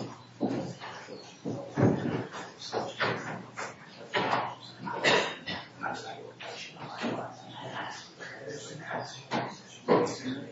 In March 2004, planes hijacked and defected an airhope raceway in Vietnam's Hanoi region. The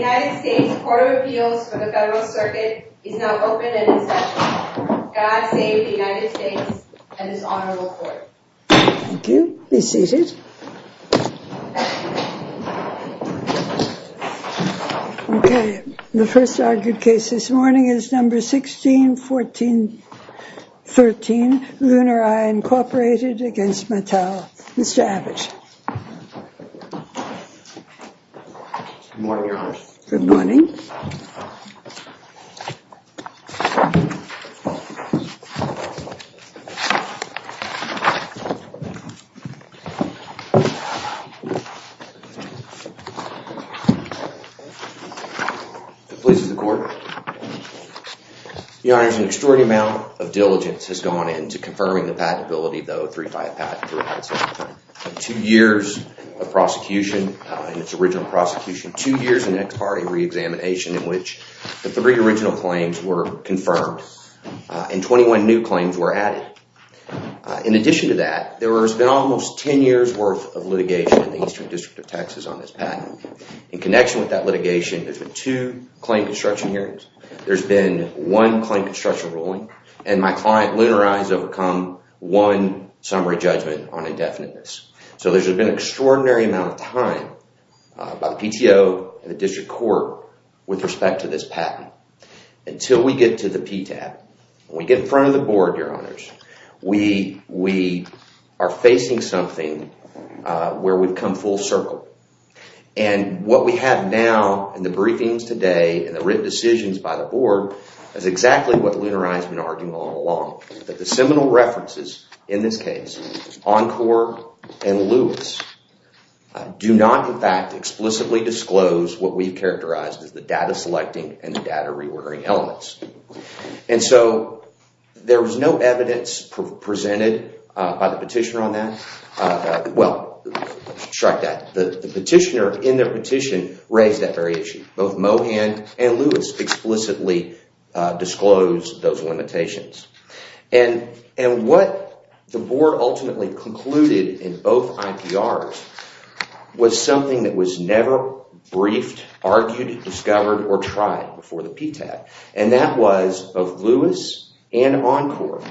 United States Court of Appeals for the Federal Circuit is now open and in session. God save the United States and this honorable court. Thank you. Be seated. Okay, the first argued case this morning is number 16, 14, 13, Lunar Eye Incorporated against Mattel. Mr. Abbott. Good morning, Your Honor. Good morning. Good morning, Your Honor. The police and the court. Your Honor, there's an extraordinary amount of diligence has gone into confirming the patentability of the 035 patent. Two years of prosecution in its original prosecution. Two years of next party reexamination in which the three original claims were confirmed and 21 new claims were added. In addition to that, there has been almost 10 years worth of litigation in the Eastern District of Texas on this patent. In connection with that litigation, there's been two claim construction hearings. There's been one claim construction ruling and my client, Lunar Eye, has overcome one summary judgment on indefiniteness. So there's been an extraordinary amount of time by the PTO and the district court with respect to this patent. Until we get to the PTAB, when we get in front of the board, Your Honors, we are facing something where we've come full circle. And what we have now in the briefings today and the written decisions by the board is exactly what Lunar Eye has been arguing all along. That the seminal references in this case, Encore and Lewis, do not in fact explicitly disclose what we've characterized as the data selecting and the data reordering elements. And so there was no evidence presented by the petitioner on that. The petitioner in their petition raised that very issue. Both Mohan and Lewis explicitly disclosed those limitations. And what the board ultimately concluded in both IPRs was something that was never briefed, argued, discovered, or tried before the PTAB. And that was both Lewis and Encore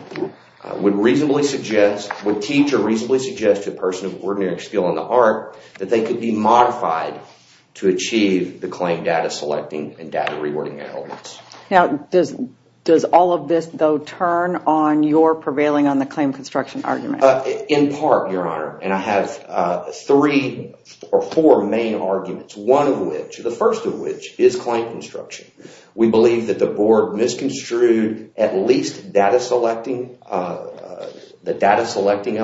would reasonably suggest, would teach or reasonably suggest to a person of ordinary skill in the art, that they could be modified to achieve the claim data selecting and data reordering elements. Now, does all of this, though, turn on your prevailing on the claim construction argument? In part, Your Honor, and I have three or four main arguments. One of which, the first of which, is claim construction. We believe that the board misconstrued at least the data selecting element, the data selecting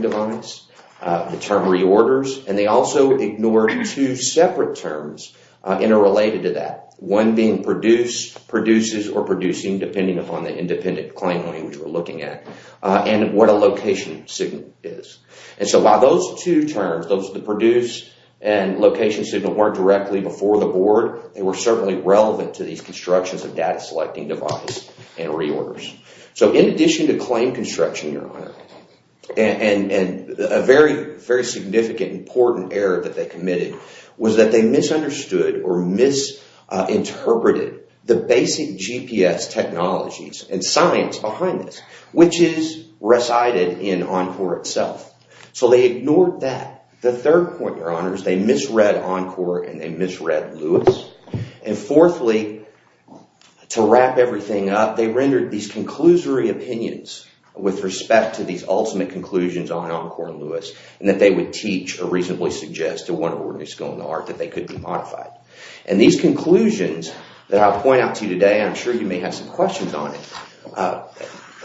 device, the term reorders. And they also ignored two separate terms interrelated to that. One being produce, produces, or producing, depending upon the independent claim language we're looking at. And what a location signal is. And so while those two terms, those, the produce and location signal, weren't directly before the board, they were certainly relevant to these constructions of data selecting device and reorders. So in addition to claim construction, Your Honor, and a very, very significant, important error that they committed, was that they misunderstood or misinterpreted the basic GPS technologies and science behind this, which is recited in Encore itself. So they ignored that. The third point, Your Honor, is they misread Encore and they misread Lewis. And fourthly, to wrap everything up, they rendered these conclusory opinions with respect to these ultimate conclusions on Encore and Lewis, and that they would teach or reasonably suggest to one ordinary school in the art that they could be modified. And these conclusions that I'll point out to you today, I'm sure you may have some questions on it,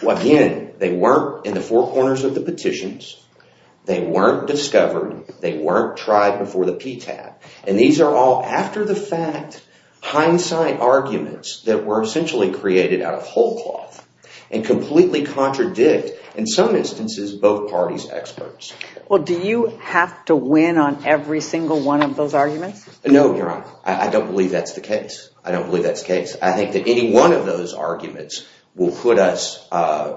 again, they weren't in the four corners of the petitions. They weren't discovered. They weren't tried before the PTAT. And these are all, after the fact, hindsight arguments that were essentially created out of whole cloth and completely contradict, in some instances, both parties' experts. Well, do you have to win on every single one of those arguments? No, Your Honor. I don't believe that's the case. I don't believe that's the case. I think that any one of those arguments will put us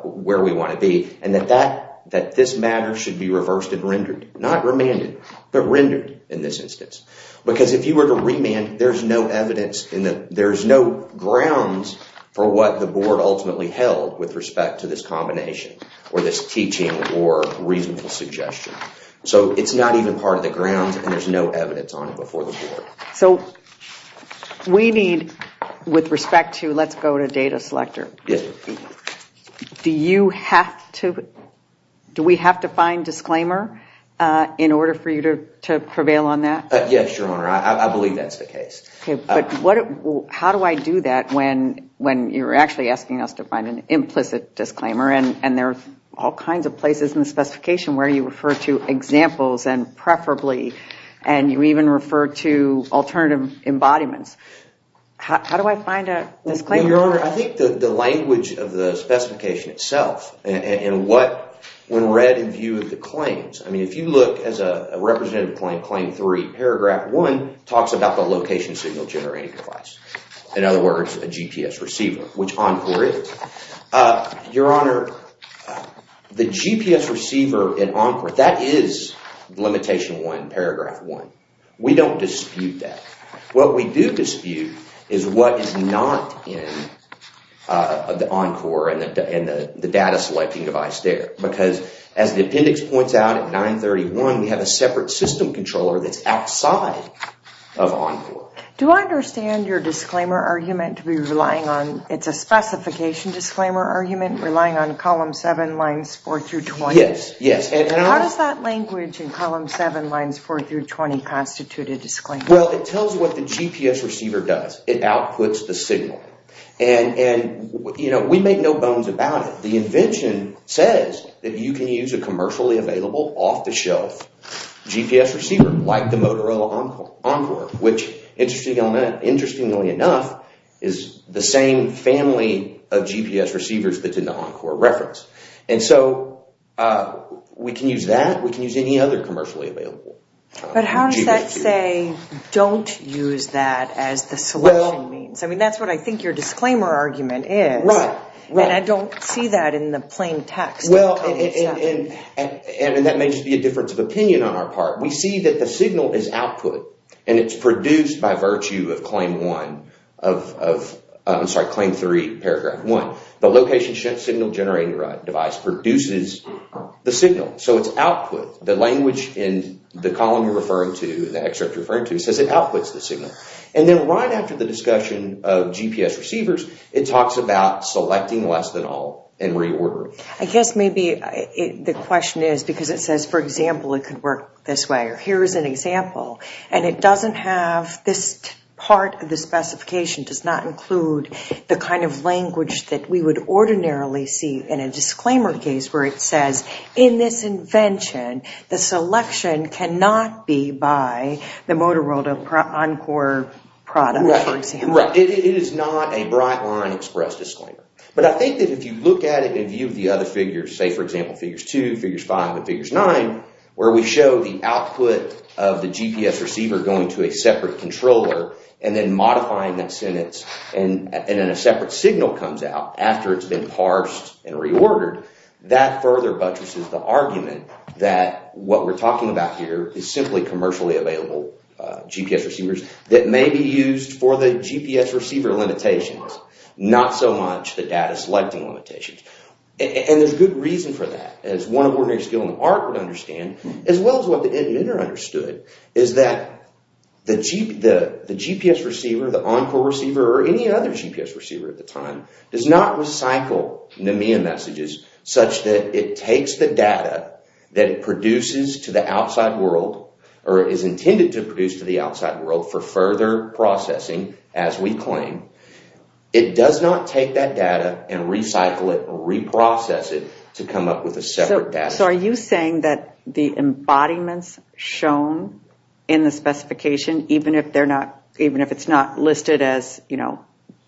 where we want to be and that this matter should be reversed and rendered. Not remanded, but rendered in this instance. Because if you were to remand, there's no evidence, there's no grounds for what the board ultimately held with respect to this combination or this teaching or reasonable suggestion. So it's not even part of the grounds and there's no evidence on it before the board. So we need, with respect to let's go to data selector, do we have to find disclaimer in order for you to prevail on that? Yes, Your Honor. I believe that's the case. But how do I do that when you're actually asking us to find an implicit disclaimer and there are all kinds of places in the specification where you refer to examples and preferably, and you even refer to alternative embodiments. How do I find a disclaimer? Well, Your Honor, I think the language of the specification itself and what, when read in view of the claims, I mean if you look as a representative claim, Claim 3, Paragraph 1, talks about the location signal generator device. In other words, a GPS receiver, which Encore is. Your Honor, the GPS receiver in Encore, that is Limitation 1, Paragraph 1. We don't dispute that. What we do dispute is what is not in the Encore and the data selecting device there. Because as the appendix points out at 931, we have a separate system controller that's outside of Encore. Do I understand your disclaimer argument to be relying on, it's a specification disclaimer argument, relying on Columns 7, Lines 4-20? Yes. How does that language in Columns 7, Lines 4-20 constitute a disclaimer? Well, it tells you what the GPS receiver does. It outputs the signal. And we make no bones about it. The invention says that you can use a commercially available, off-the-shelf GPS receiver like the Motorola Encore, which, interestingly enough, is the same family of GPS receivers that did the Encore reference. And so we can use that. We can use any other commercially available GPS receiver. But how does that say, don't use that as the selection means? I mean, that's what I think your disclaimer argument is. Right. And I don't see that in the plain text of Columns 7. And that may just be a difference of opinion on our part. We see that the signal is output. And it's produced by virtue of Claim 3, Paragraph 1. The location signal generator device produces the signal. So it's output. The language in the column you're referring to, the excerpt you're referring to, says it outputs the signal. And then right after the discussion of GPS receivers, it talks about selecting less than all and reordering. I guess maybe the question is because it says, for example, it could work this way. Or here's an example. And it doesn't have this part of the specification does not include the kind of language that we would ordinarily see in a disclaimer case where it says, in this invention, the selection cannot be by the Motorola Encore product, for example. Right. It is not a Brightline express disclaimer. But I think that if you look at it in view of the other figures, say, for example, figures 2, figures 5, and figures 9, where we show the output of the GPS receiver going to a separate controller and then modifying that sentence and then a separate signal comes out after it's been parsed and reordered, that further buttresses the argument that what we're talking about here is simply commercially available GPS receivers that may be used for the GPS receiver limitations. Not so much the data selecting limitations. And there's good reason for that. As one of ordinary skill in the art would understand, as well as what the inventor understood, is that the GPS receiver, the Encore receiver, or any other GPS receiver at the time, does not recycle NMEA messages such that it takes the data that it produces to the outside world, or is intended to produce to the outside world, for further processing, as we claim. It does not take that data and recycle it or reprocess it to come up with a separate data. So are you saying that the embodiments shown in the specification, even if it's not listed as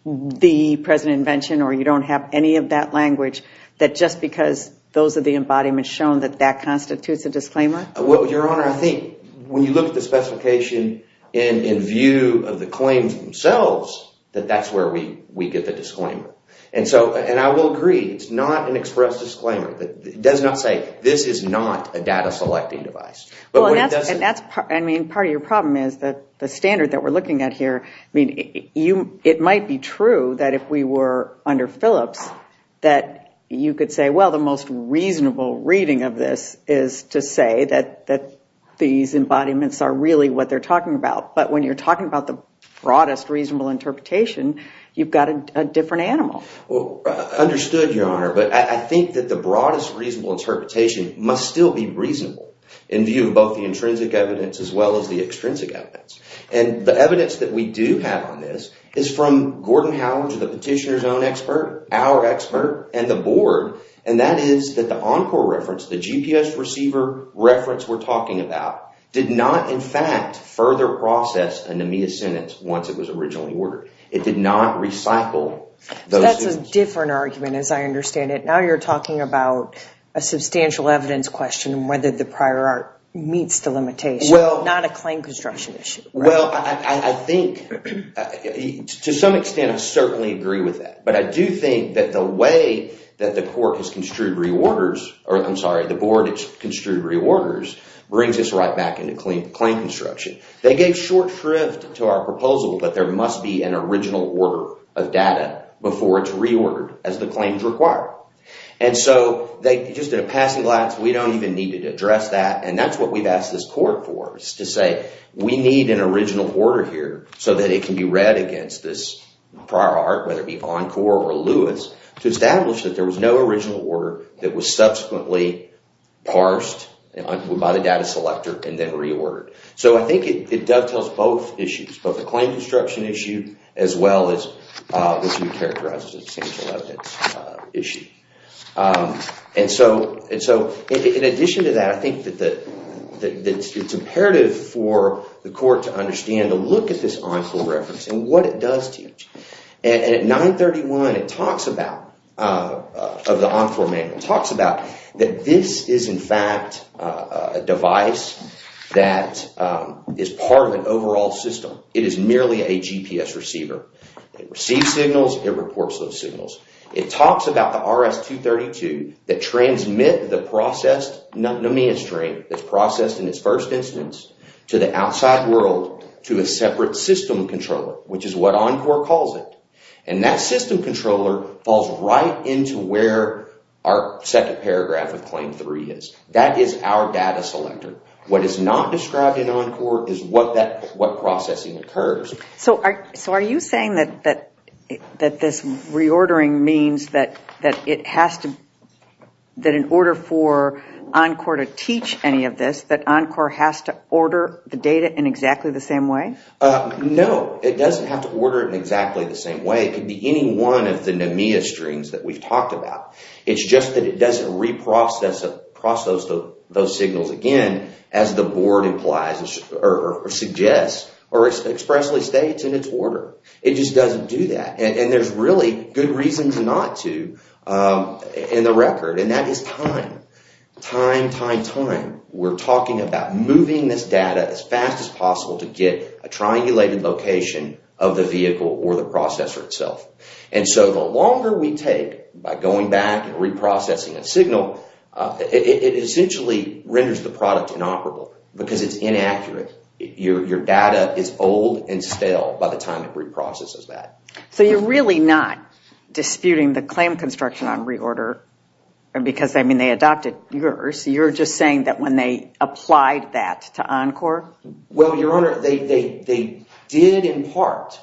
the present invention or you don't have any of that language, that just because those are the embodiments shown that that constitutes a disclaimer? Well, Your Honor, I think when you look at the specification in view of the claims themselves, that that's where we get the disclaimer. And I will agree, it's not an express disclaimer. It does not say, this is not a data selecting device. And part of your problem is that the standard that we're looking at here, it might be true that if we were under Phillips, that you could say, well, the most reasonable reading of this is to say that these embodiments are really what they're talking about. But when you're talking about the broadest reasonable interpretation, you've got a different animal. Understood, Your Honor. But I think that the broadest reasonable interpretation must still be reasonable in view of both the intrinsic evidence as well as the extrinsic evidence. And the evidence that we do have on this is from Gordon Howell, the petitioner's own expert, our expert, and the board. And that is that the Encore reference, the GPS receiver reference we're talking about, did not, in fact, further process a NMEA sentence once it was originally ordered. It did not recycle those sentences. So that's a different argument, as I understand it. Now you're talking about a substantial evidence question and whether the prior art meets the limitations, not a claim construction issue. Well, I think, to some extent, I certainly agree with that. But I do think that the way that the court has construed reorders, or I'm sorry, the board has construed reorders, brings us right back into claim construction. They gave short shrift to our proposal that there must be an original order of data before it's reordered, as the claims require. And so just at a passing glance, we don't even need to address that. And that's what we've asked this court for, is to say we need an original order here so that it can be read against this prior art, whether it be Encore or Lewis, to establish that there was no original order that was subsequently parsed by the data selector and then reordered. So I think it dovetails both issues, both the claim construction issue as well as the two characteristic substantial evidence issue. And so in addition to that, I think that it's imperative for the court to understand and to look at this Encore reference and what it does teach. And at 931, it talks about, of the Encore manual, it talks about that this is in fact a device that is part of an overall system. It is merely a GPS receiver. It receives signals, it reports those signals. It talks about the RS-232 that transmit the processed pneumonia strain that's processed in its first instance to the outside world to a separate system controller, which is what Encore calls it. And that system controller falls right into where our second paragraph of Claim 3 is. That is our data selector. What is not described in Encore is what processing occurs. So are you saying that this reordering means that in order for Encore to teach any of this, that Encore has to order the data in exactly the same way? No, it doesn't have to order it in exactly the same way. It could be any one of the pneumonia strains that we've talked about. It's just that it doesn't reprocess those signals again, as the board implies or suggests or expressly states in its order. It just doesn't do that. And there's really good reasons not to in the record, and that is time. We're talking about moving this data as fast as possible to get a triangulated location of the vehicle or the processor itself. And so the longer we take by going back and reprocessing a signal, it essentially renders the product inoperable because it's inaccurate. Your data is old and stale by the time it reprocesses that. So you're really not disputing the claim construction on reorder because, I mean, they adopted yours. You're just saying that when they applied that to Encore? Well, Your Honor, they did in part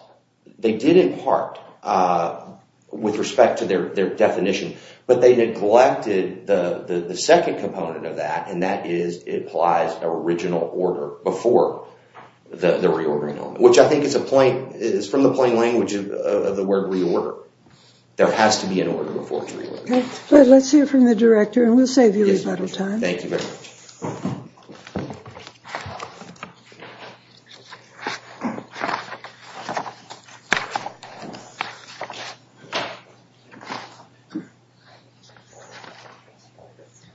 with respect to their definition, but they neglected the second component of that, and that is it applies original order before the reordering element, which I think is from the plain language of the word reorder. There has to be an order before it's reordered. Let's hear from the director, and we'll save you a little time. Thank you very much.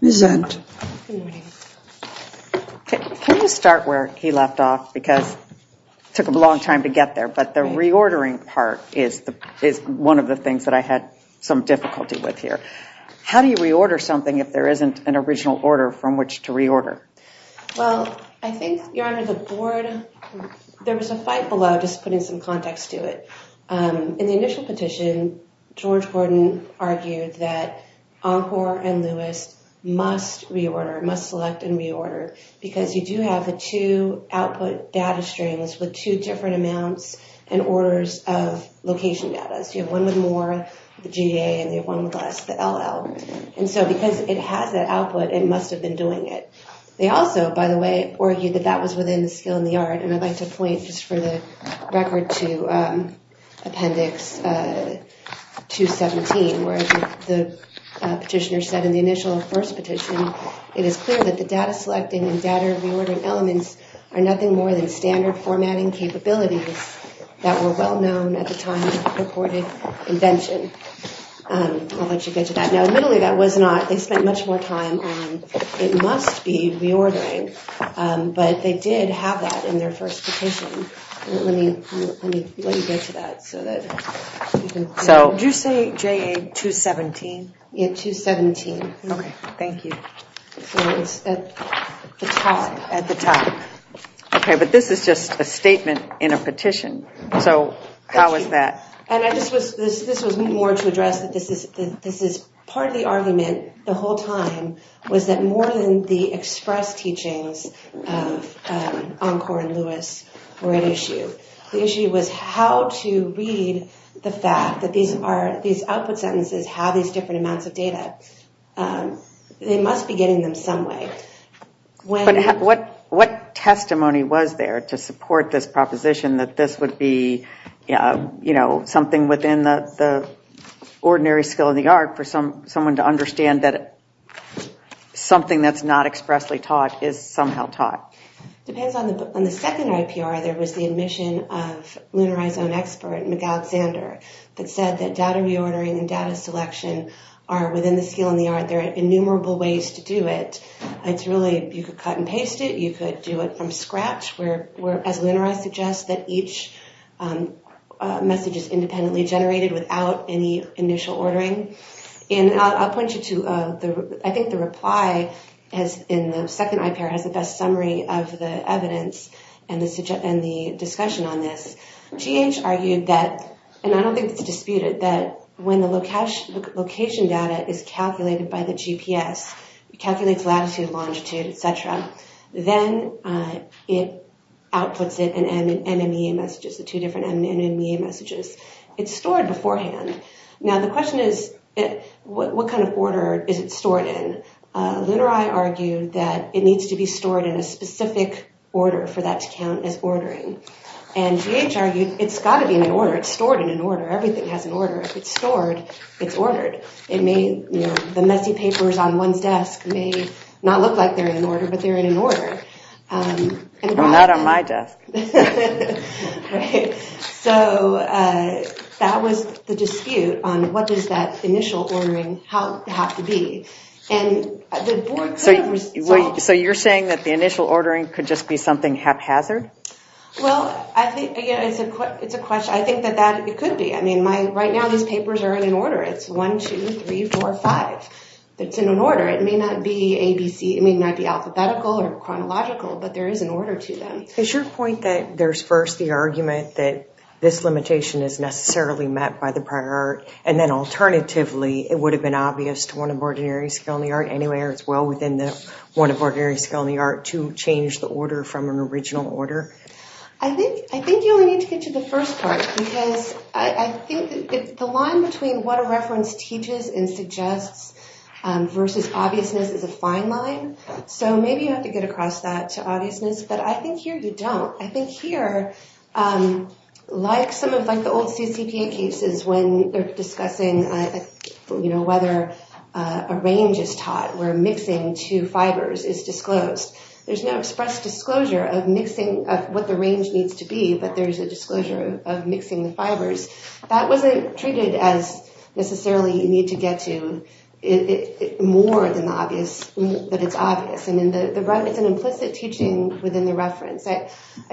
Ms. Zunt. Can you start where he left off? Because it took him a long time to get there, but the reordering part is one of the things that I had some difficulty with here. How do you reorder something if there isn't an original order from which to reorder? Well, I think, Your Honor, the board, there was a fight below just putting some context to it. In the initial petition, George Gordon argued that Encore and Lewis must reorder, must select and reorder, because you do have the two output data streams with two different amounts and orders of location data. So you have one with more, the GA, and you have one with less, the LL. And so because it has that output, it must have been doing it. They also, by the way, argued that that was within the skill and the art, and I'd like to point just for the record to Appendix 217, where the petitioner said in the initial first petition, it is clear that the data-selecting and data-reordering elements are nothing more than standard formatting capabilities that were well-known at the time of the purported invention. I'll let you get to that. Now, admittedly, that was not. They spent much more time on it must be reordering, but they did have that in their first petition. Let me get to that. So did you say GA 217? Yeah, 217. Okay, thank you. It's at the top. Okay, but this is just a statement in a petition. So how is that? And this was more to address that this is part of the argument the whole time was that more than the express teachings of Encore and Lewis were at issue. The issue was how to read the fact that these output sentences have these different amounts of data. They must be getting them some way. What testimony was there to support this proposition that this would be, you know, something within the ordinary skill of the art for someone to understand that something that's not expressly taught is somehow taught? It depends on the second IPR. There was the admission of Lunarizone expert, McAlexander, that said that data reordering and data selection are within the skill and the art. There are innumerable ways to do it. It's really you could cut and paste it. You could do it from scratch, as Lunarize suggests, that each message is independently generated without any initial ordering. And I'll point you to I think the reply in the second IPR has the best summary of the evidence and the discussion on this. GH argued that, and I don't think it's disputed, that when the location data is calculated by the GPS, it calculates latitude, longitude, et cetera, then it outputs it in MMEA messages, the two different MMEA messages. It's stored beforehand. Now the question is what kind of order is it stored in? Lunarize argued that it needs to be stored in a specific order for that to count as ordering. And GH argued it's got to be in an order. It's stored in an order. Everything has an order. If it's stored, it's ordered. The messy papers on one's desk may not look like they're in an order, but they're in an order. Not on my desk. So that was the dispute on what does that initial ordering have to be. So you're saying that the initial ordering could just be something haphazard? Well, I think, again, it's a question. I think that it could be. I mean, right now these papers are in an order. It's one, two, three, four, five. It's in an order. It may not be alphabetical or chronological, but there is an order to them. Is your point that there's first the argument that this limitation is necessarily met by the prior art, and then alternatively it would have been obvious to one of ordinary skill in the art anywhere as well within the one of ordinary skill in the order? I think you only need to get to the first part, because I think the line between what a reference teaches and suggests versus obviousness is a fine line. So maybe you have to get across that to obviousness, but I think here you don't. I think here, like some of the old CCPA cases when they're discussing, you know, whether a range is taught where mixing two fibers is disclosed. There's no expressed disclosure of mixing of what the range needs to be, but there's a disclosure of mixing the fibers. That wasn't treated as necessarily you need to get to more than the obvious, that it's obvious. I mean, it's an implicit teaching within the reference. I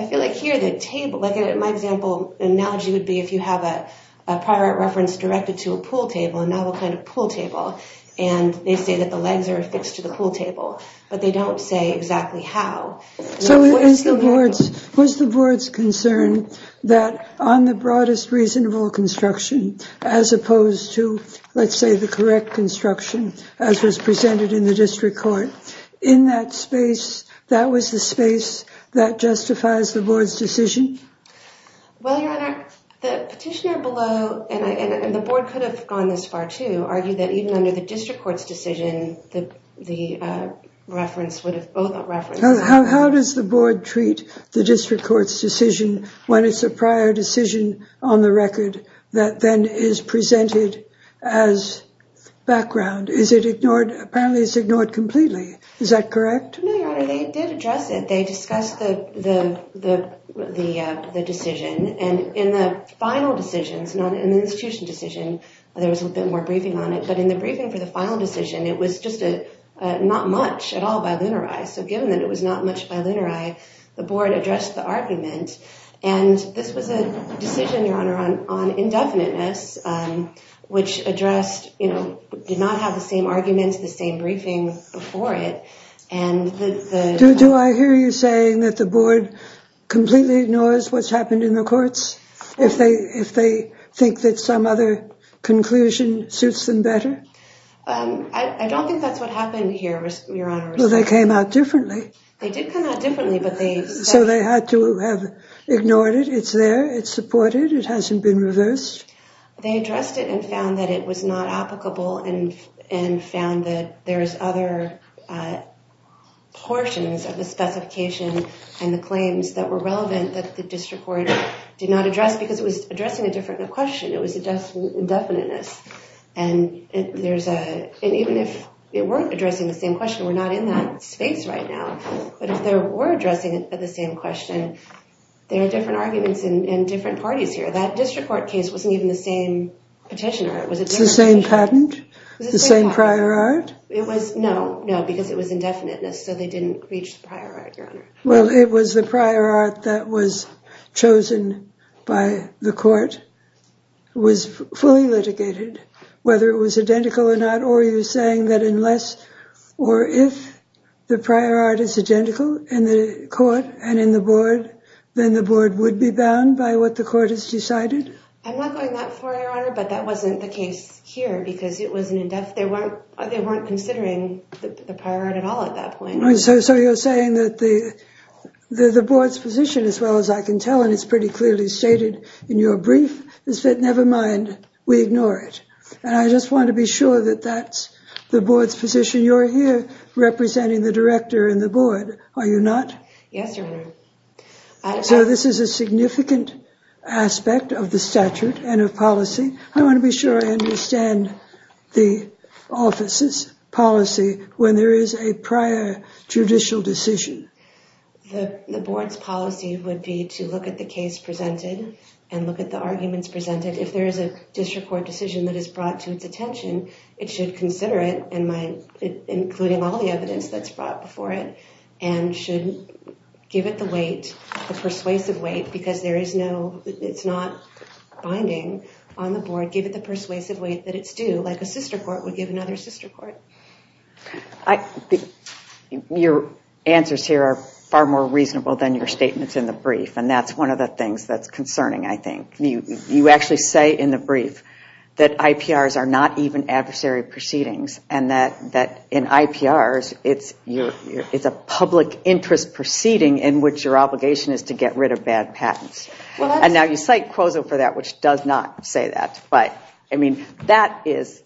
feel like here the table, like my example analogy would be if you have a prior art reference directed to a pool table, a novel kind of pool table, and they say that the legs are affixed to the pool table, but they don't say exactly how. So was the board's concern that on the broadest reasonable construction as opposed to, let's say, the correct construction as was presented in the district court, in that space that was the space that justifies the board's decision? Well, Your Honor, the petitioner below, and the board could have gone this far too, argued that even under the district court's decision, the reference would have both references. How does the board treat the district court's decision when it's a prior decision on the record that then is presented as background? Is it ignored? Apparently it's ignored completely. Is that correct? No, Your Honor, they did address it. They discussed the decision, and in the final decision, it's not an institution decision, there was a bit more briefing on it, but in the briefing for the final decision, it was just not much at all bilinearized. So given that it was not much bilinearized, the board addressed the argument, and this was a decision, Your Honor, on indefiniteness, which addressed, did not have the same arguments, the same briefing before it. Do I hear you saying that the board completely ignores what's happened in your courts if they think that some other conclusion suits them better? I don't think that's what happened here, Your Honor. Well, they came out differently. They did come out differently, but they... So they had to have ignored it. It's there. It's supported. It hasn't been reversed. They addressed it and found that it was not applicable and found that there's other portions of the specification and the claims that were did not address because it was addressing a different question. It was indefiniteness, and there's a... And even if it weren't addressing the same question, we're not in that space right now, but if they were addressing the same question, there are different arguments and different parties here. That district court case wasn't even the same petitioner. It was a different petitioner. Was it the same patent? Was it the same patent? The same prior art? It was... No, no, because it was indefiniteness, so they didn't reach the prior art, Your Honor. Well, it was the prior art that was chosen by the court. It was fully litigated, whether it was identical or not, or are you saying that unless or if the prior art is identical in the court and in the board, then the board would be bound by what the court has decided? I'm not going that far, Your Honor, but that wasn't the case here because it wasn't in depth. They weren't considering the prior art at all at that point. So you're saying that the board's position, as well as I can tell, and it's pretty clearly stated in your brief, is that never mind, we ignore it. And I just want to be sure that that's the board's position. You're here representing the director and the board, are you not? Yes, Your Honor. So this is a significant aspect of the statute and of policy. I want to be sure I understand the office's policy when there is a prior judicial decision. The board's policy would be to look at the case presented and look at the arguments presented. If there is a district court decision that is brought to its attention, it should consider it, including all the evidence that's brought before it, and should give it the weight, the persuasive weight, because it's not binding on the board, give it the persuasive weight that it's due, like a sister court would give another sister court. Your answers here are far more reasonable than your statements in the brief, and that's one of the things that's concerning, I think. You actually say in the brief that IPRs are not even adversary proceedings and that in IPRs, it's a public interest proceeding in which your obligation is to get rid of bad patents. And now you cite Quozo for that, which does not say that. But, I mean, that is,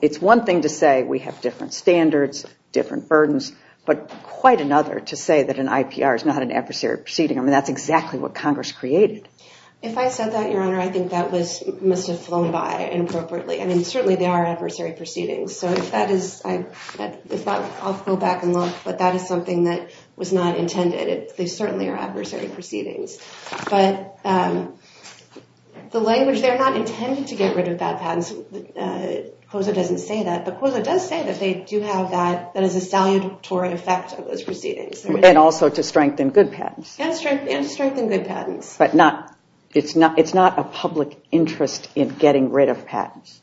it's one thing to say we have different standards, different burdens, but quite another to say that an IPR is not an adversary proceeding. I mean, that's exactly what Congress created. If I said that, Your Honor, I think that must have flown by inappropriately. I mean, certainly they are adversary proceedings. So if that is, I'll go back and look, but that is something that was not intended. They certainly are adversary proceedings. But the language, they're not intended to get rid of bad patents. Quozo doesn't say that, but Quozo does say that they do have that, that is a salutatory effect of those proceedings. And also to strengthen good patents. And to strengthen good patents. But it's not a public interest in getting rid of patents.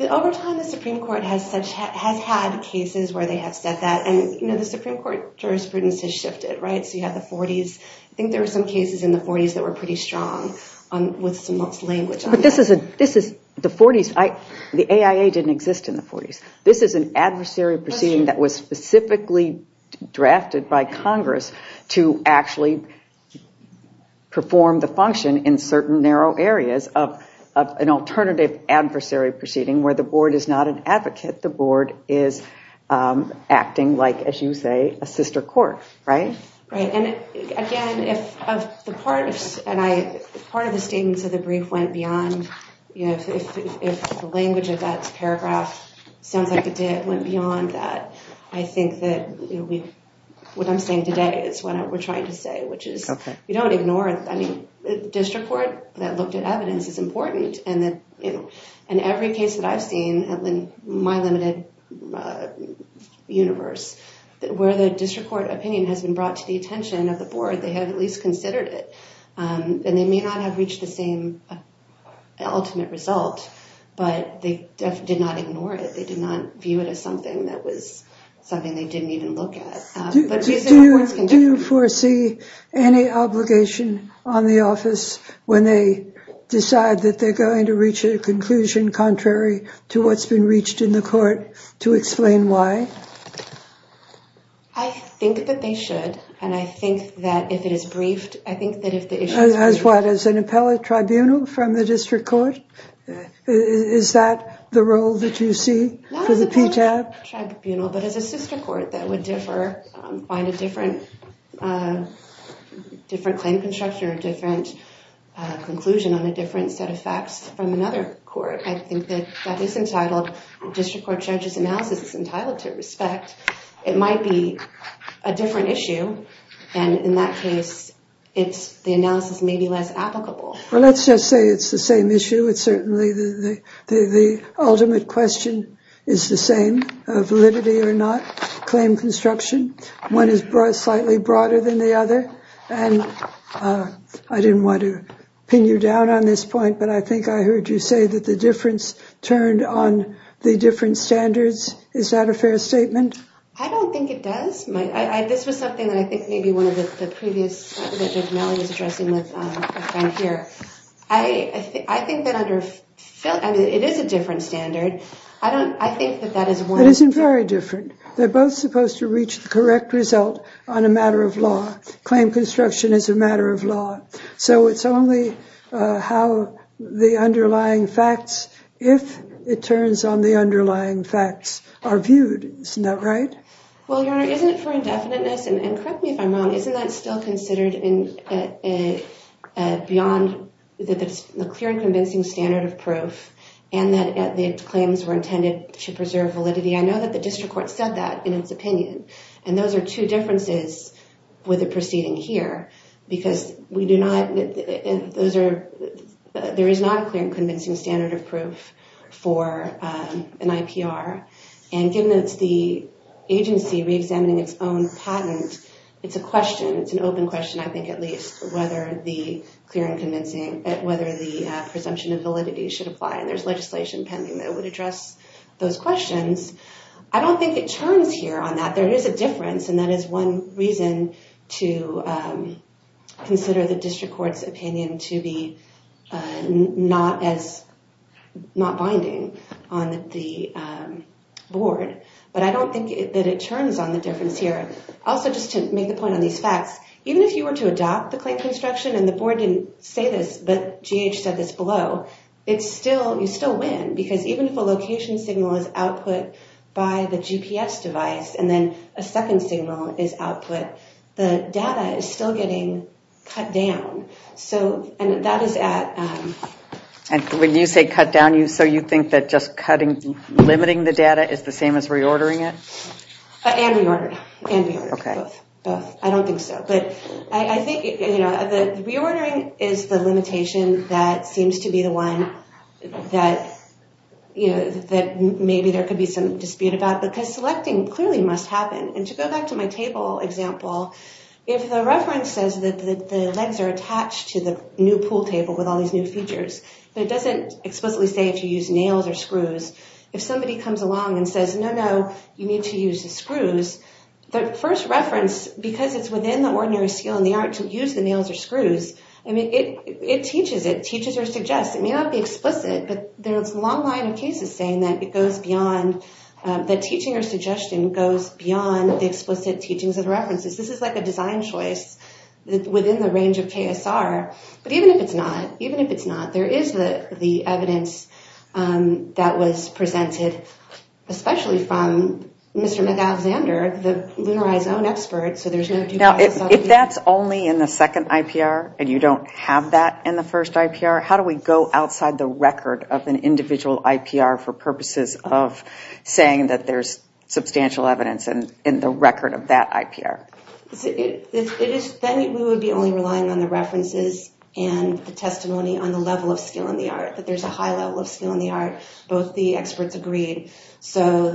Over time, the Supreme Court has had cases where they have said that, and the Supreme Court jurisprudence has shifted, right? So you have the 40s. I think there were some cases in the 40s that were pretty strong with some lost language. But this is the 40s. The AIA didn't exist in the 40s. This is an adversary proceeding that was specifically drafted by Congress to actually perform the function in certain narrow areas of an alternative adversary proceeding where the board is not an advocate. The board is acting like, as you say, a sister court, right? Right. And again, if part of the statements of the brief went beyond, if the language of that paragraph sounds like it went beyond that, I think that what I'm saying today is what we're trying to say, which is you don't ignore it. I mean, district court that looked at evidence is important. And every case that I've seen in my limited universe, where the district court opinion has been brought to the attention of the board, they have at least considered it. And they may not have reached the same ultimate result, but they did not ignore it. They did not view it as something that was something they didn't even look at. Do you foresee any obligation on the office when they decide that they're going to reach a conclusion contrary to what's been reached in the court to explain why? I think that they should, and I think that if it is briefed, I think that if the issue is briefed. As what, as an appellate tribunal from the district court? Is that the role that you see for the PTAP? Not as an appellate tribunal, but as a sister court that would differ, find a different claim construction or a different conclusion on a different set of facts from another court. I think that that is entitled district court judges analysis is entitled to respect. It might be a different issue. And in that case, it's the analysis may be less applicable. Well, let's just say it's the same issue. It's certainly the ultimate question is the same validity or not claim construction. One is brought slightly broader than the other. And I didn't want to pin you down on this point, but I think I heard you say that the difference turned on the different standards. Is that a fair statement? I don't think it does. This was something that I think maybe one of the previous. I think that under it is a different standard. I don't I think that that is what isn't very different. They're both supposed to reach the correct result on a matter of law. Claim construction is a matter of law. So it's only how the underlying facts, if it turns on the underlying facts, are viewed. Isn't that right? Well, isn't it for indefiniteness? And correct me if I'm wrong. Isn't that still considered beyond the clear and convincing standard of proof? And that the claims were intended to preserve validity. I know that the district court said that in its opinion. And those are two differences with the proceeding here. Because we do not. Those are. There is not a clear and convincing standard of proof for an IPR. And given it's the agency reexamining its own patent. It's a question. It's an open question. I think at least whether the clear and convincing, whether the presumption of validity should apply. And there's legislation pending that would address those questions. I don't think it turns here on that. There is a difference. And that is one reason to consider the district court's opinion to be not binding on the board. But I don't think that it turns on the difference here. Also, just to make a point on these facts. Even if you were to adopt the claim construction and the board didn't say this. But GH said this below. You still win. Because even if a location signal is output by the GPS device. And then a second signal is output. The data is still getting cut down. And that is at. When you say cut down. So you think that just limiting the data is the same as reordering it? And reordering. And reordering. Both. I don't think so. Reordering is the limitation that seems to be the one that maybe there could be some dispute about. Because selecting clearly must happen. And to go back to my table example. If the reference says that the legs are attached to the new pool table with all these new features. But it doesn't explicitly say if you use nails or screws. If somebody comes along and says, no, no. You need to use the screws. The first reference, because it's within the ordinary skill in the art to use the nails or screws. It teaches it. It teaches or suggests. It may not be explicit. But there's a long line of cases saying that it goes beyond. That teaching or suggestion goes beyond the explicit teachings of the references. This is like a design choice within the range of KSR. But even if it's not. There is the evidence that was presented. Especially from Mr. McAlexander, the Lunari's own expert. If that's only in the second IPR and you don't have that in the first IPR. How do we go outside the record of an individual IPR for purposes of saying that there's substantial evidence in the record of that IPR? Then we would be only relying on the references and the testimony on the level of skill in the art. That there's a high level of skill in the art. Both the experts agreed. So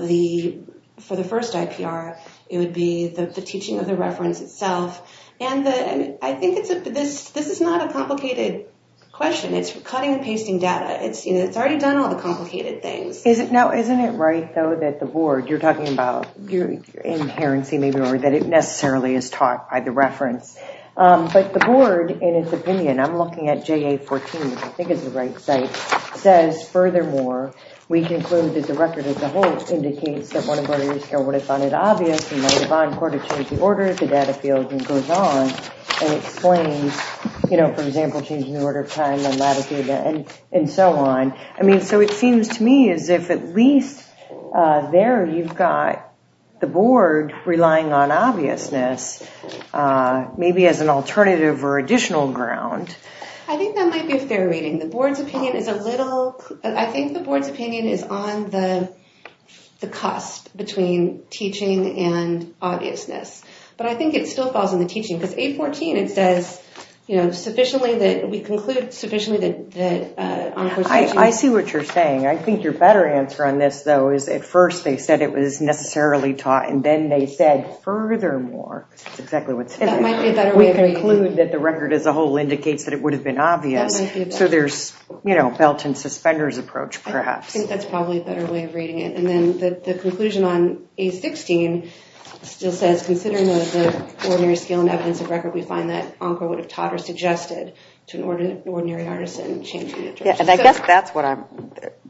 for the first IPR, it would be the teaching of the reference itself. And I think this is not a complicated question. It's cutting and pasting data. It's already done all the complicated things. Isn't it right though that the board. You're talking about your inherency maybe or that it necessarily is taught by the reference. But the board in its opinion. I'm looking at JA14. I think it's the right site. Says furthermore. We conclude that the record as a whole indicates that one of our years ago would have found it obvious. And then the bond court would have changed the order of the data fields and goes on. And explains. For example, changing the order of time and latitude and so on. So it seems to me as if at least there you've got the board relying on obviousness. Maybe as an alternative or additional ground. I think that might be a fair reading. The board's opinion is a little. I think the board's opinion is on the cost between teaching and obviousness. But I think it still falls in the teaching. Because A14 it says sufficiently that we conclude sufficiently that. I see what you're saying. I think your better answer on this though is at first they said it was necessarily taught. And then they said furthermore. That's exactly what's in there. We conclude that the record as a whole indicates that it would have been obvious. So there's, you know, belt and suspenders approach perhaps. I think that's probably a better way of reading it. And then the conclusion on A16 still says considering the ordinary scale and evidence of record, we find that Oncor would have taught or suggested to an ordinary artisan. And I guess that's what I'm,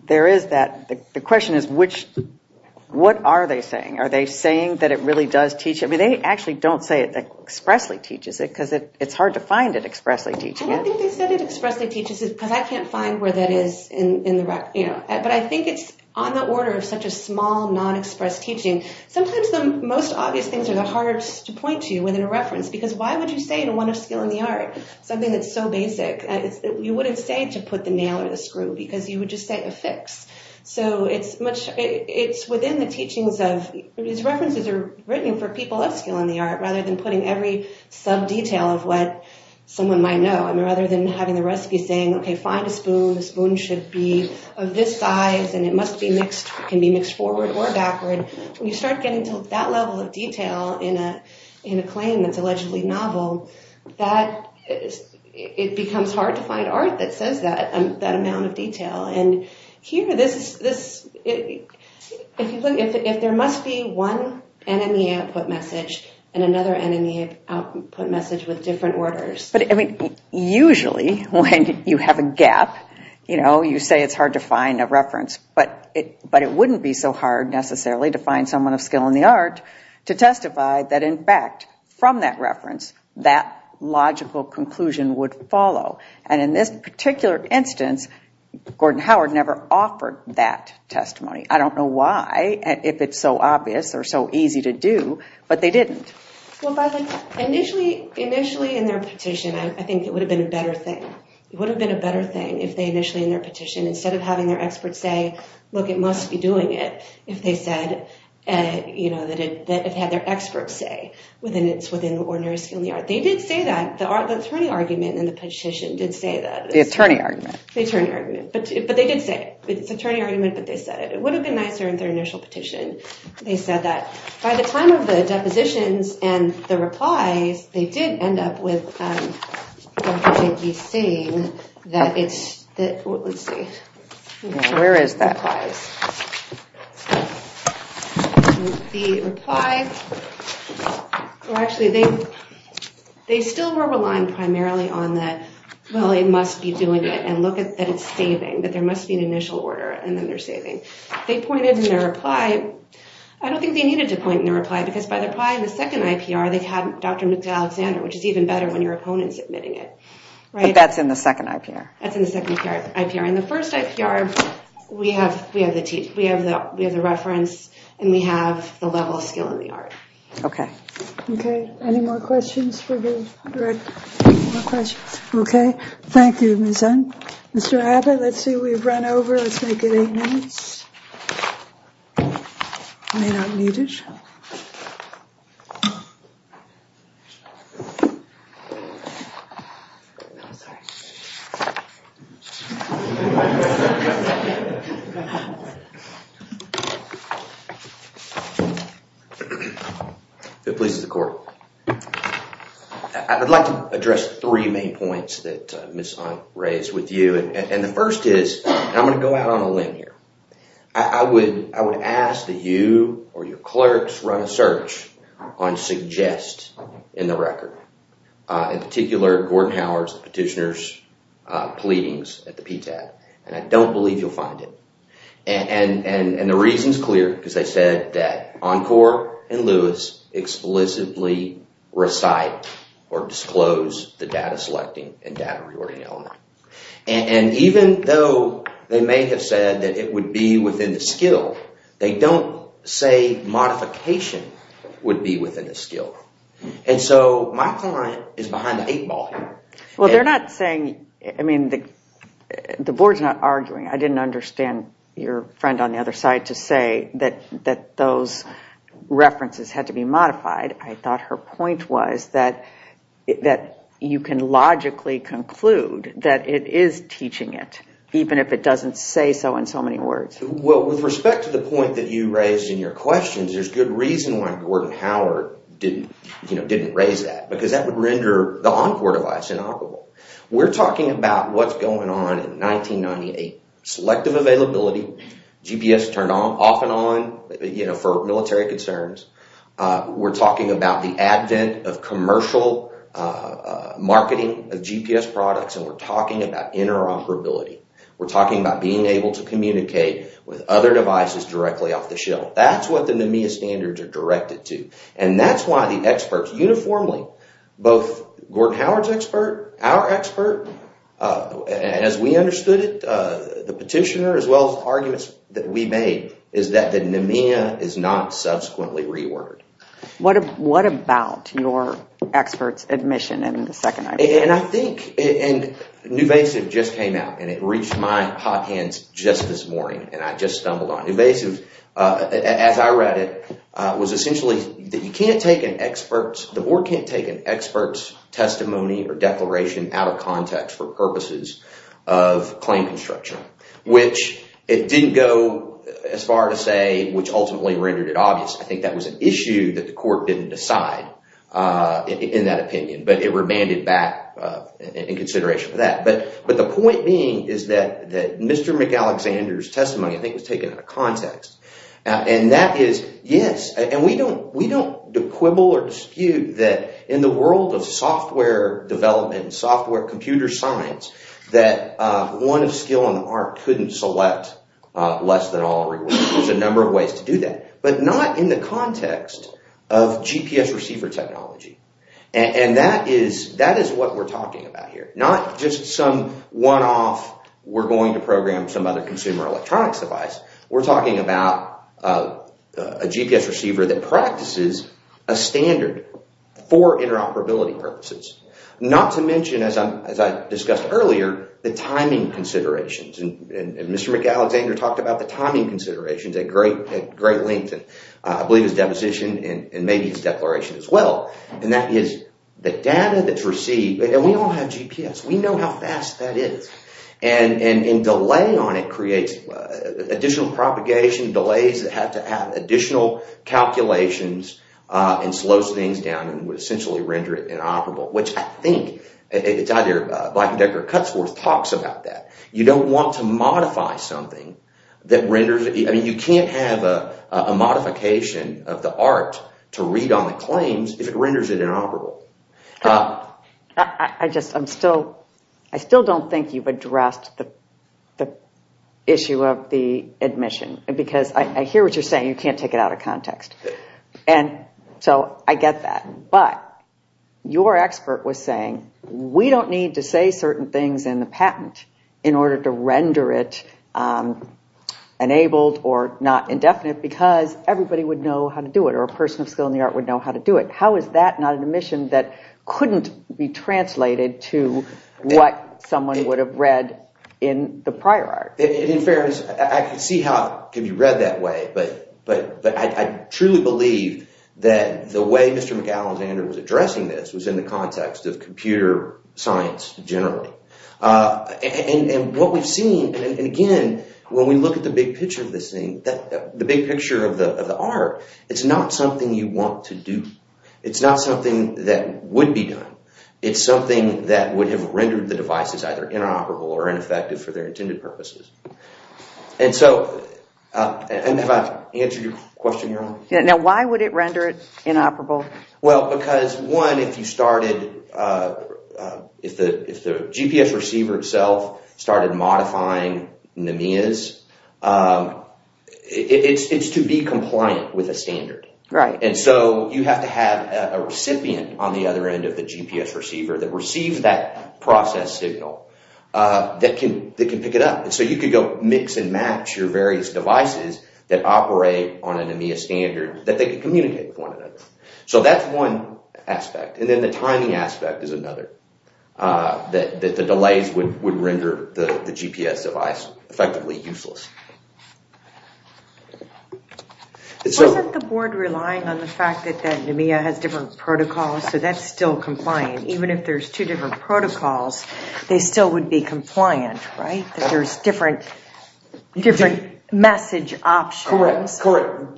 there is that. The question is which, what are they saying? Are they saying that it really does teach? I mean they actually don't say it expressly teaches it because it's hard to find it expressly teaching it. I don't think they said it expressly teaches it because I can't find where that is in the record. But I think it's on the order of such a small non-expressed teaching. Sometimes the most obvious things are the hardest to point to within a reference because why would you say in a one of skill in the art something that's so basic? You wouldn't say to put the nail or the screw because you would just say a fix. So it's much, it's within the teachings of, these references are written for people of skill in the art rather than putting every sub-detail of what someone might know. I mean rather than having the recipe saying okay find a spoon, the spoon should be of this size and it must be mixed, can be mixed forward or backward. When you start getting to that level of detail in a claim that's allegedly novel that it becomes hard to find art that says that, that amount of detail. And here this, if you look, if there must be one NMEA output message and another NMEA output message with different orders. But I mean usually when you have a gap, you know, you say it's hard to find a reference but it wouldn't be so hard necessarily to find someone of skill in the art to testify that in fact from that reference that logical conclusion would follow. And in this particular instance Gordon Howard never offered that testimony. I don't know why, if it's so obvious or so easy to do, but they didn't. Well by the, initially in their petition I think it would have been a better thing. It would have been a better thing if they initially in their petition instead of having their experts say look it must be doing it if they said, you know, that it had their experts say within the ordinary skill in the art. They did say that, the attorney argument in the petition did say that. The attorney argument. The attorney argument, but they did say it. It's an attorney argument but they said it. It would have been nicer in their initial petition. They said that. By the time of the depositions and the replies they did end up with Dr. Jenke saying that it's, let's see. Where is that? The replies. The replies, well actually they still were relying primarily on the well it must be doing it and look at that it's saving but there must be an initial order and then they're saving. They pointed in their reply. I don't think they needed to point in their reply because by their reply in the second IPR they had Dr. Alexander which is even better when your opponent is admitting it. But that's in the second IPR. That's in the second IPR. In the first IPR we have the reference and we have the level of skill in the art. Okay. Okay. Any more questions? We're good. More questions? Okay. Thank you Ms. Hunt. Mr. Abbott let's see we've run over. Let's make it eight minutes. I may not need it. If it pleases the court. I'd like to address three main points that Ms. Hunt raised with you and the first is I'm going to go out on a limb here. I would ask that you or your clerks run a search on suggest in the record. In particular Gordon Howard's petitioner's pleadings at the PTAB and I don't believe you'll find it. And the reason is clear because they said that Encore and Lewis explicitly recite or disclose the data selecting and data reordering element. And even though they may have said that it would be within the skill, they don't say modification would be within the skill. And so my client is behind the eight ball here. Well they're not saying, I mean the board's not arguing. I didn't understand your friend on the other side to say that those references had to be modified. I thought her point was that you can logically conclude that it is teaching it even if it doesn't say so in so many words. Well with respect to the point that you raised in your questions, there's good reason why Gordon Howard didn't raise that because that would render the Encore device inoperable. We're talking about what's going on in 1998. Selective availability, GPS turned off and on for military concerns. We're talking about the advent of commercial marketing of GPS products and we're talking about interoperability. We're talking about being able to communicate with other devices directly off the shelf. That's what the NMEA standards are directed to. And that's why the experts uniformly, both Gordon Howard's expert, our expert, as we understood it, the petitioner as well as arguments that we made, is that the NMEA is not subsequently reordered. What about your expert's admission in the second item? And I think, and Nuvasiv just came out and it reached my hot hands just this morning and I just stumbled on it. Nuvasiv, as I read it, was essentially that you can't take an expert's, the board can't take an expert's testimony or declaration out of context for purposes of claim construction. Which it didn't go as far to say, which ultimately rendered it obvious. I think that was an issue that the court didn't decide in that opinion. But it remanded back in consideration for that. But the point being is that Mr. McAlexander's testimony, I think, was taken out of context. And that is, yes, and we don't quibble or dispute that in the world of software development, software computer science, that one of skill and art couldn't select less than all rewards. There's a number of ways to do that. But not in the context of GPS receiver technology. And that is what we're talking about here. Not just some one-off, we're going to program some other consumer electronics device. We're talking about a GPS receiver that practices a standard for interoperability purposes. Not to mention, as I discussed earlier, the timing considerations. And Mr. McAlexander talked about the timing considerations at great length. I believe his deposition and maybe his declaration as well. And that is the data that's received, and we all have GPS. We know how fast that is. And delay on it creates additional propagation, delays that have to have additional calculations and slows things down and would essentially render it inoperable, which I think – it's either Black & Decker or Cutsworth talks about that. You don't want to modify something that renders – I mean you can't have a modification of the art to read on the claims if it renders it inoperable. I just – I'm still – I still don't think you've addressed the issue of the admission. Because I hear what you're saying. You can't take it out of context. And so I get that. But your expert was saying we don't need to say certain things in the patent in order to render it enabled or not indefinite because everybody would know how to do it or a person of skill in the art would know how to do it. How is that not an admission that couldn't be translated to what someone would have read in the prior art? In fairness, I can see how it could be read that way. But I truly believe that the way Mr. McAlexander was addressing this was in the context of computer science generally. And what we've seen – and again, when we look at the big picture of this thing, the big picture of the art, it's not something you want to do. It's not something that would be done. It's something that would have rendered the devices either inoperable or ineffective for their intended purposes. And so – have I answered your question, Your Honor? Now, why would it render it inoperable? Well, because one, if you started – if the GPS receiver itself started modifying NMEAs, it's to be compliant with a standard. And so you have to have a recipient on the other end of the GPS receiver that receives that process signal that can pick it up. And so you could go mix and match your various devices that operate on an NMEA standard that they could communicate with one another. So that's one aspect. And then the timing aspect is another, that the delays would render the GPS device effectively useless. Wasn't the board relying on the fact that that NMEA has different protocols, so that's still compliant? Even if there's two different protocols, they still would be compliant, right? That there's different message options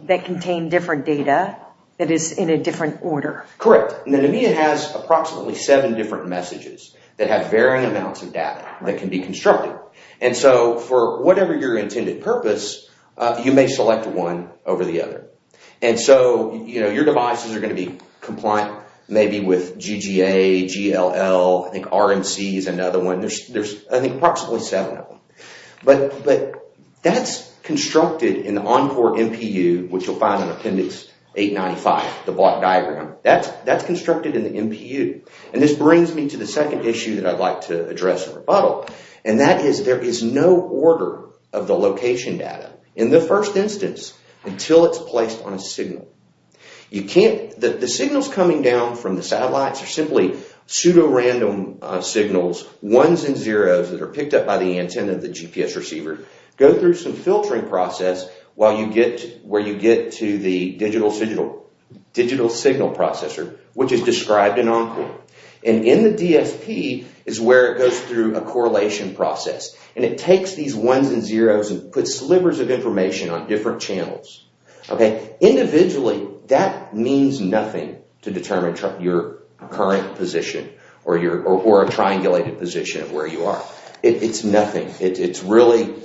that contain different data that is in a different order. Correct. And the NMEA has approximately seven different messages that have varying amounts of data that can be constructed. And so for whatever your intended purpose, you may select one over the other. And so your devices are going to be compliant maybe with GGA, GLL, I think RMC is another one. There's I think approximately seven of them. But that's constructed in the Encore MPU, which you'll find in Appendix 895, the block diagram. That's constructed in the MPU. And this brings me to the second issue that I'd like to address in rebuttal. And that is there is no order of the location data in the first instance until it's placed on a signal. The signals coming down from the satellites are simply pseudo-random signals, ones and zeros that are picked up by the antenna of the GPS receiver. Go through some filtering process where you get to the digital signal processor, which is described in Encore. And in the DSP is where it goes through a correlation process. And it takes these ones and zeros and puts slivers of information on different channels. Individually, that means nothing to determine your current position or a triangulated position of where you are. It's nothing. It's really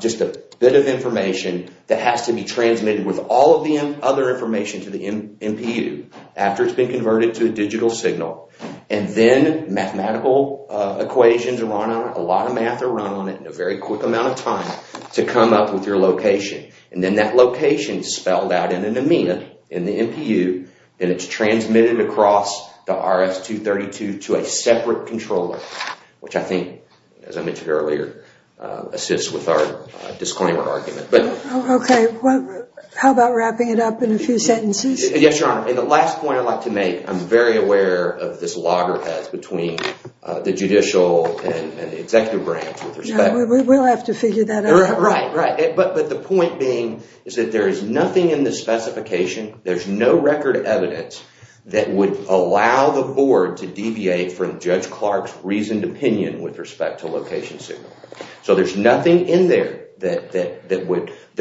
just a bit of information that has to be transmitted with all of the other information to the MPU. After it's been converted to a digital signal. And then mathematical equations are run on it. A lot of math is run on it in a very quick amount of time to come up with your location. And then that location is spelled out in an amena in the MPU. And it's transmitted across the RS-232 to a separate controller, which I think, as I mentioned earlier, assists with our disclaimer argument. Okay. How about wrapping it up in a few sentences? Yes, Your Honor. And the last point I'd like to make, I'm very aware of this loggerheads between the judicial and the executive branch. We will have to figure that out. Right, right. But the point being is that there is nothing in the specification, there's no record evidence that would allow the board to deviate from Judge Clark's reasoned opinion with respect to location signal. So there's nothing in there that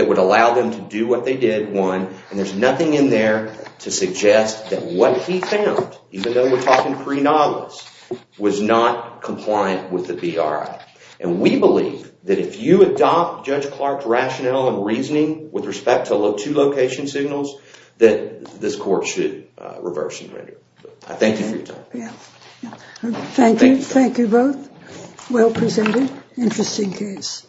would allow them to do what they did. And there's nothing in there to suggest that what he found, even though we're talking pre-Nautilus, was not compliant with the BRI. And we believe that if you adopt Judge Clark's rationale and reasoning with respect to two location signals, that this court should reverse and render. I thank you for your time. Thank you. Thank you both. Well presented. Interesting case.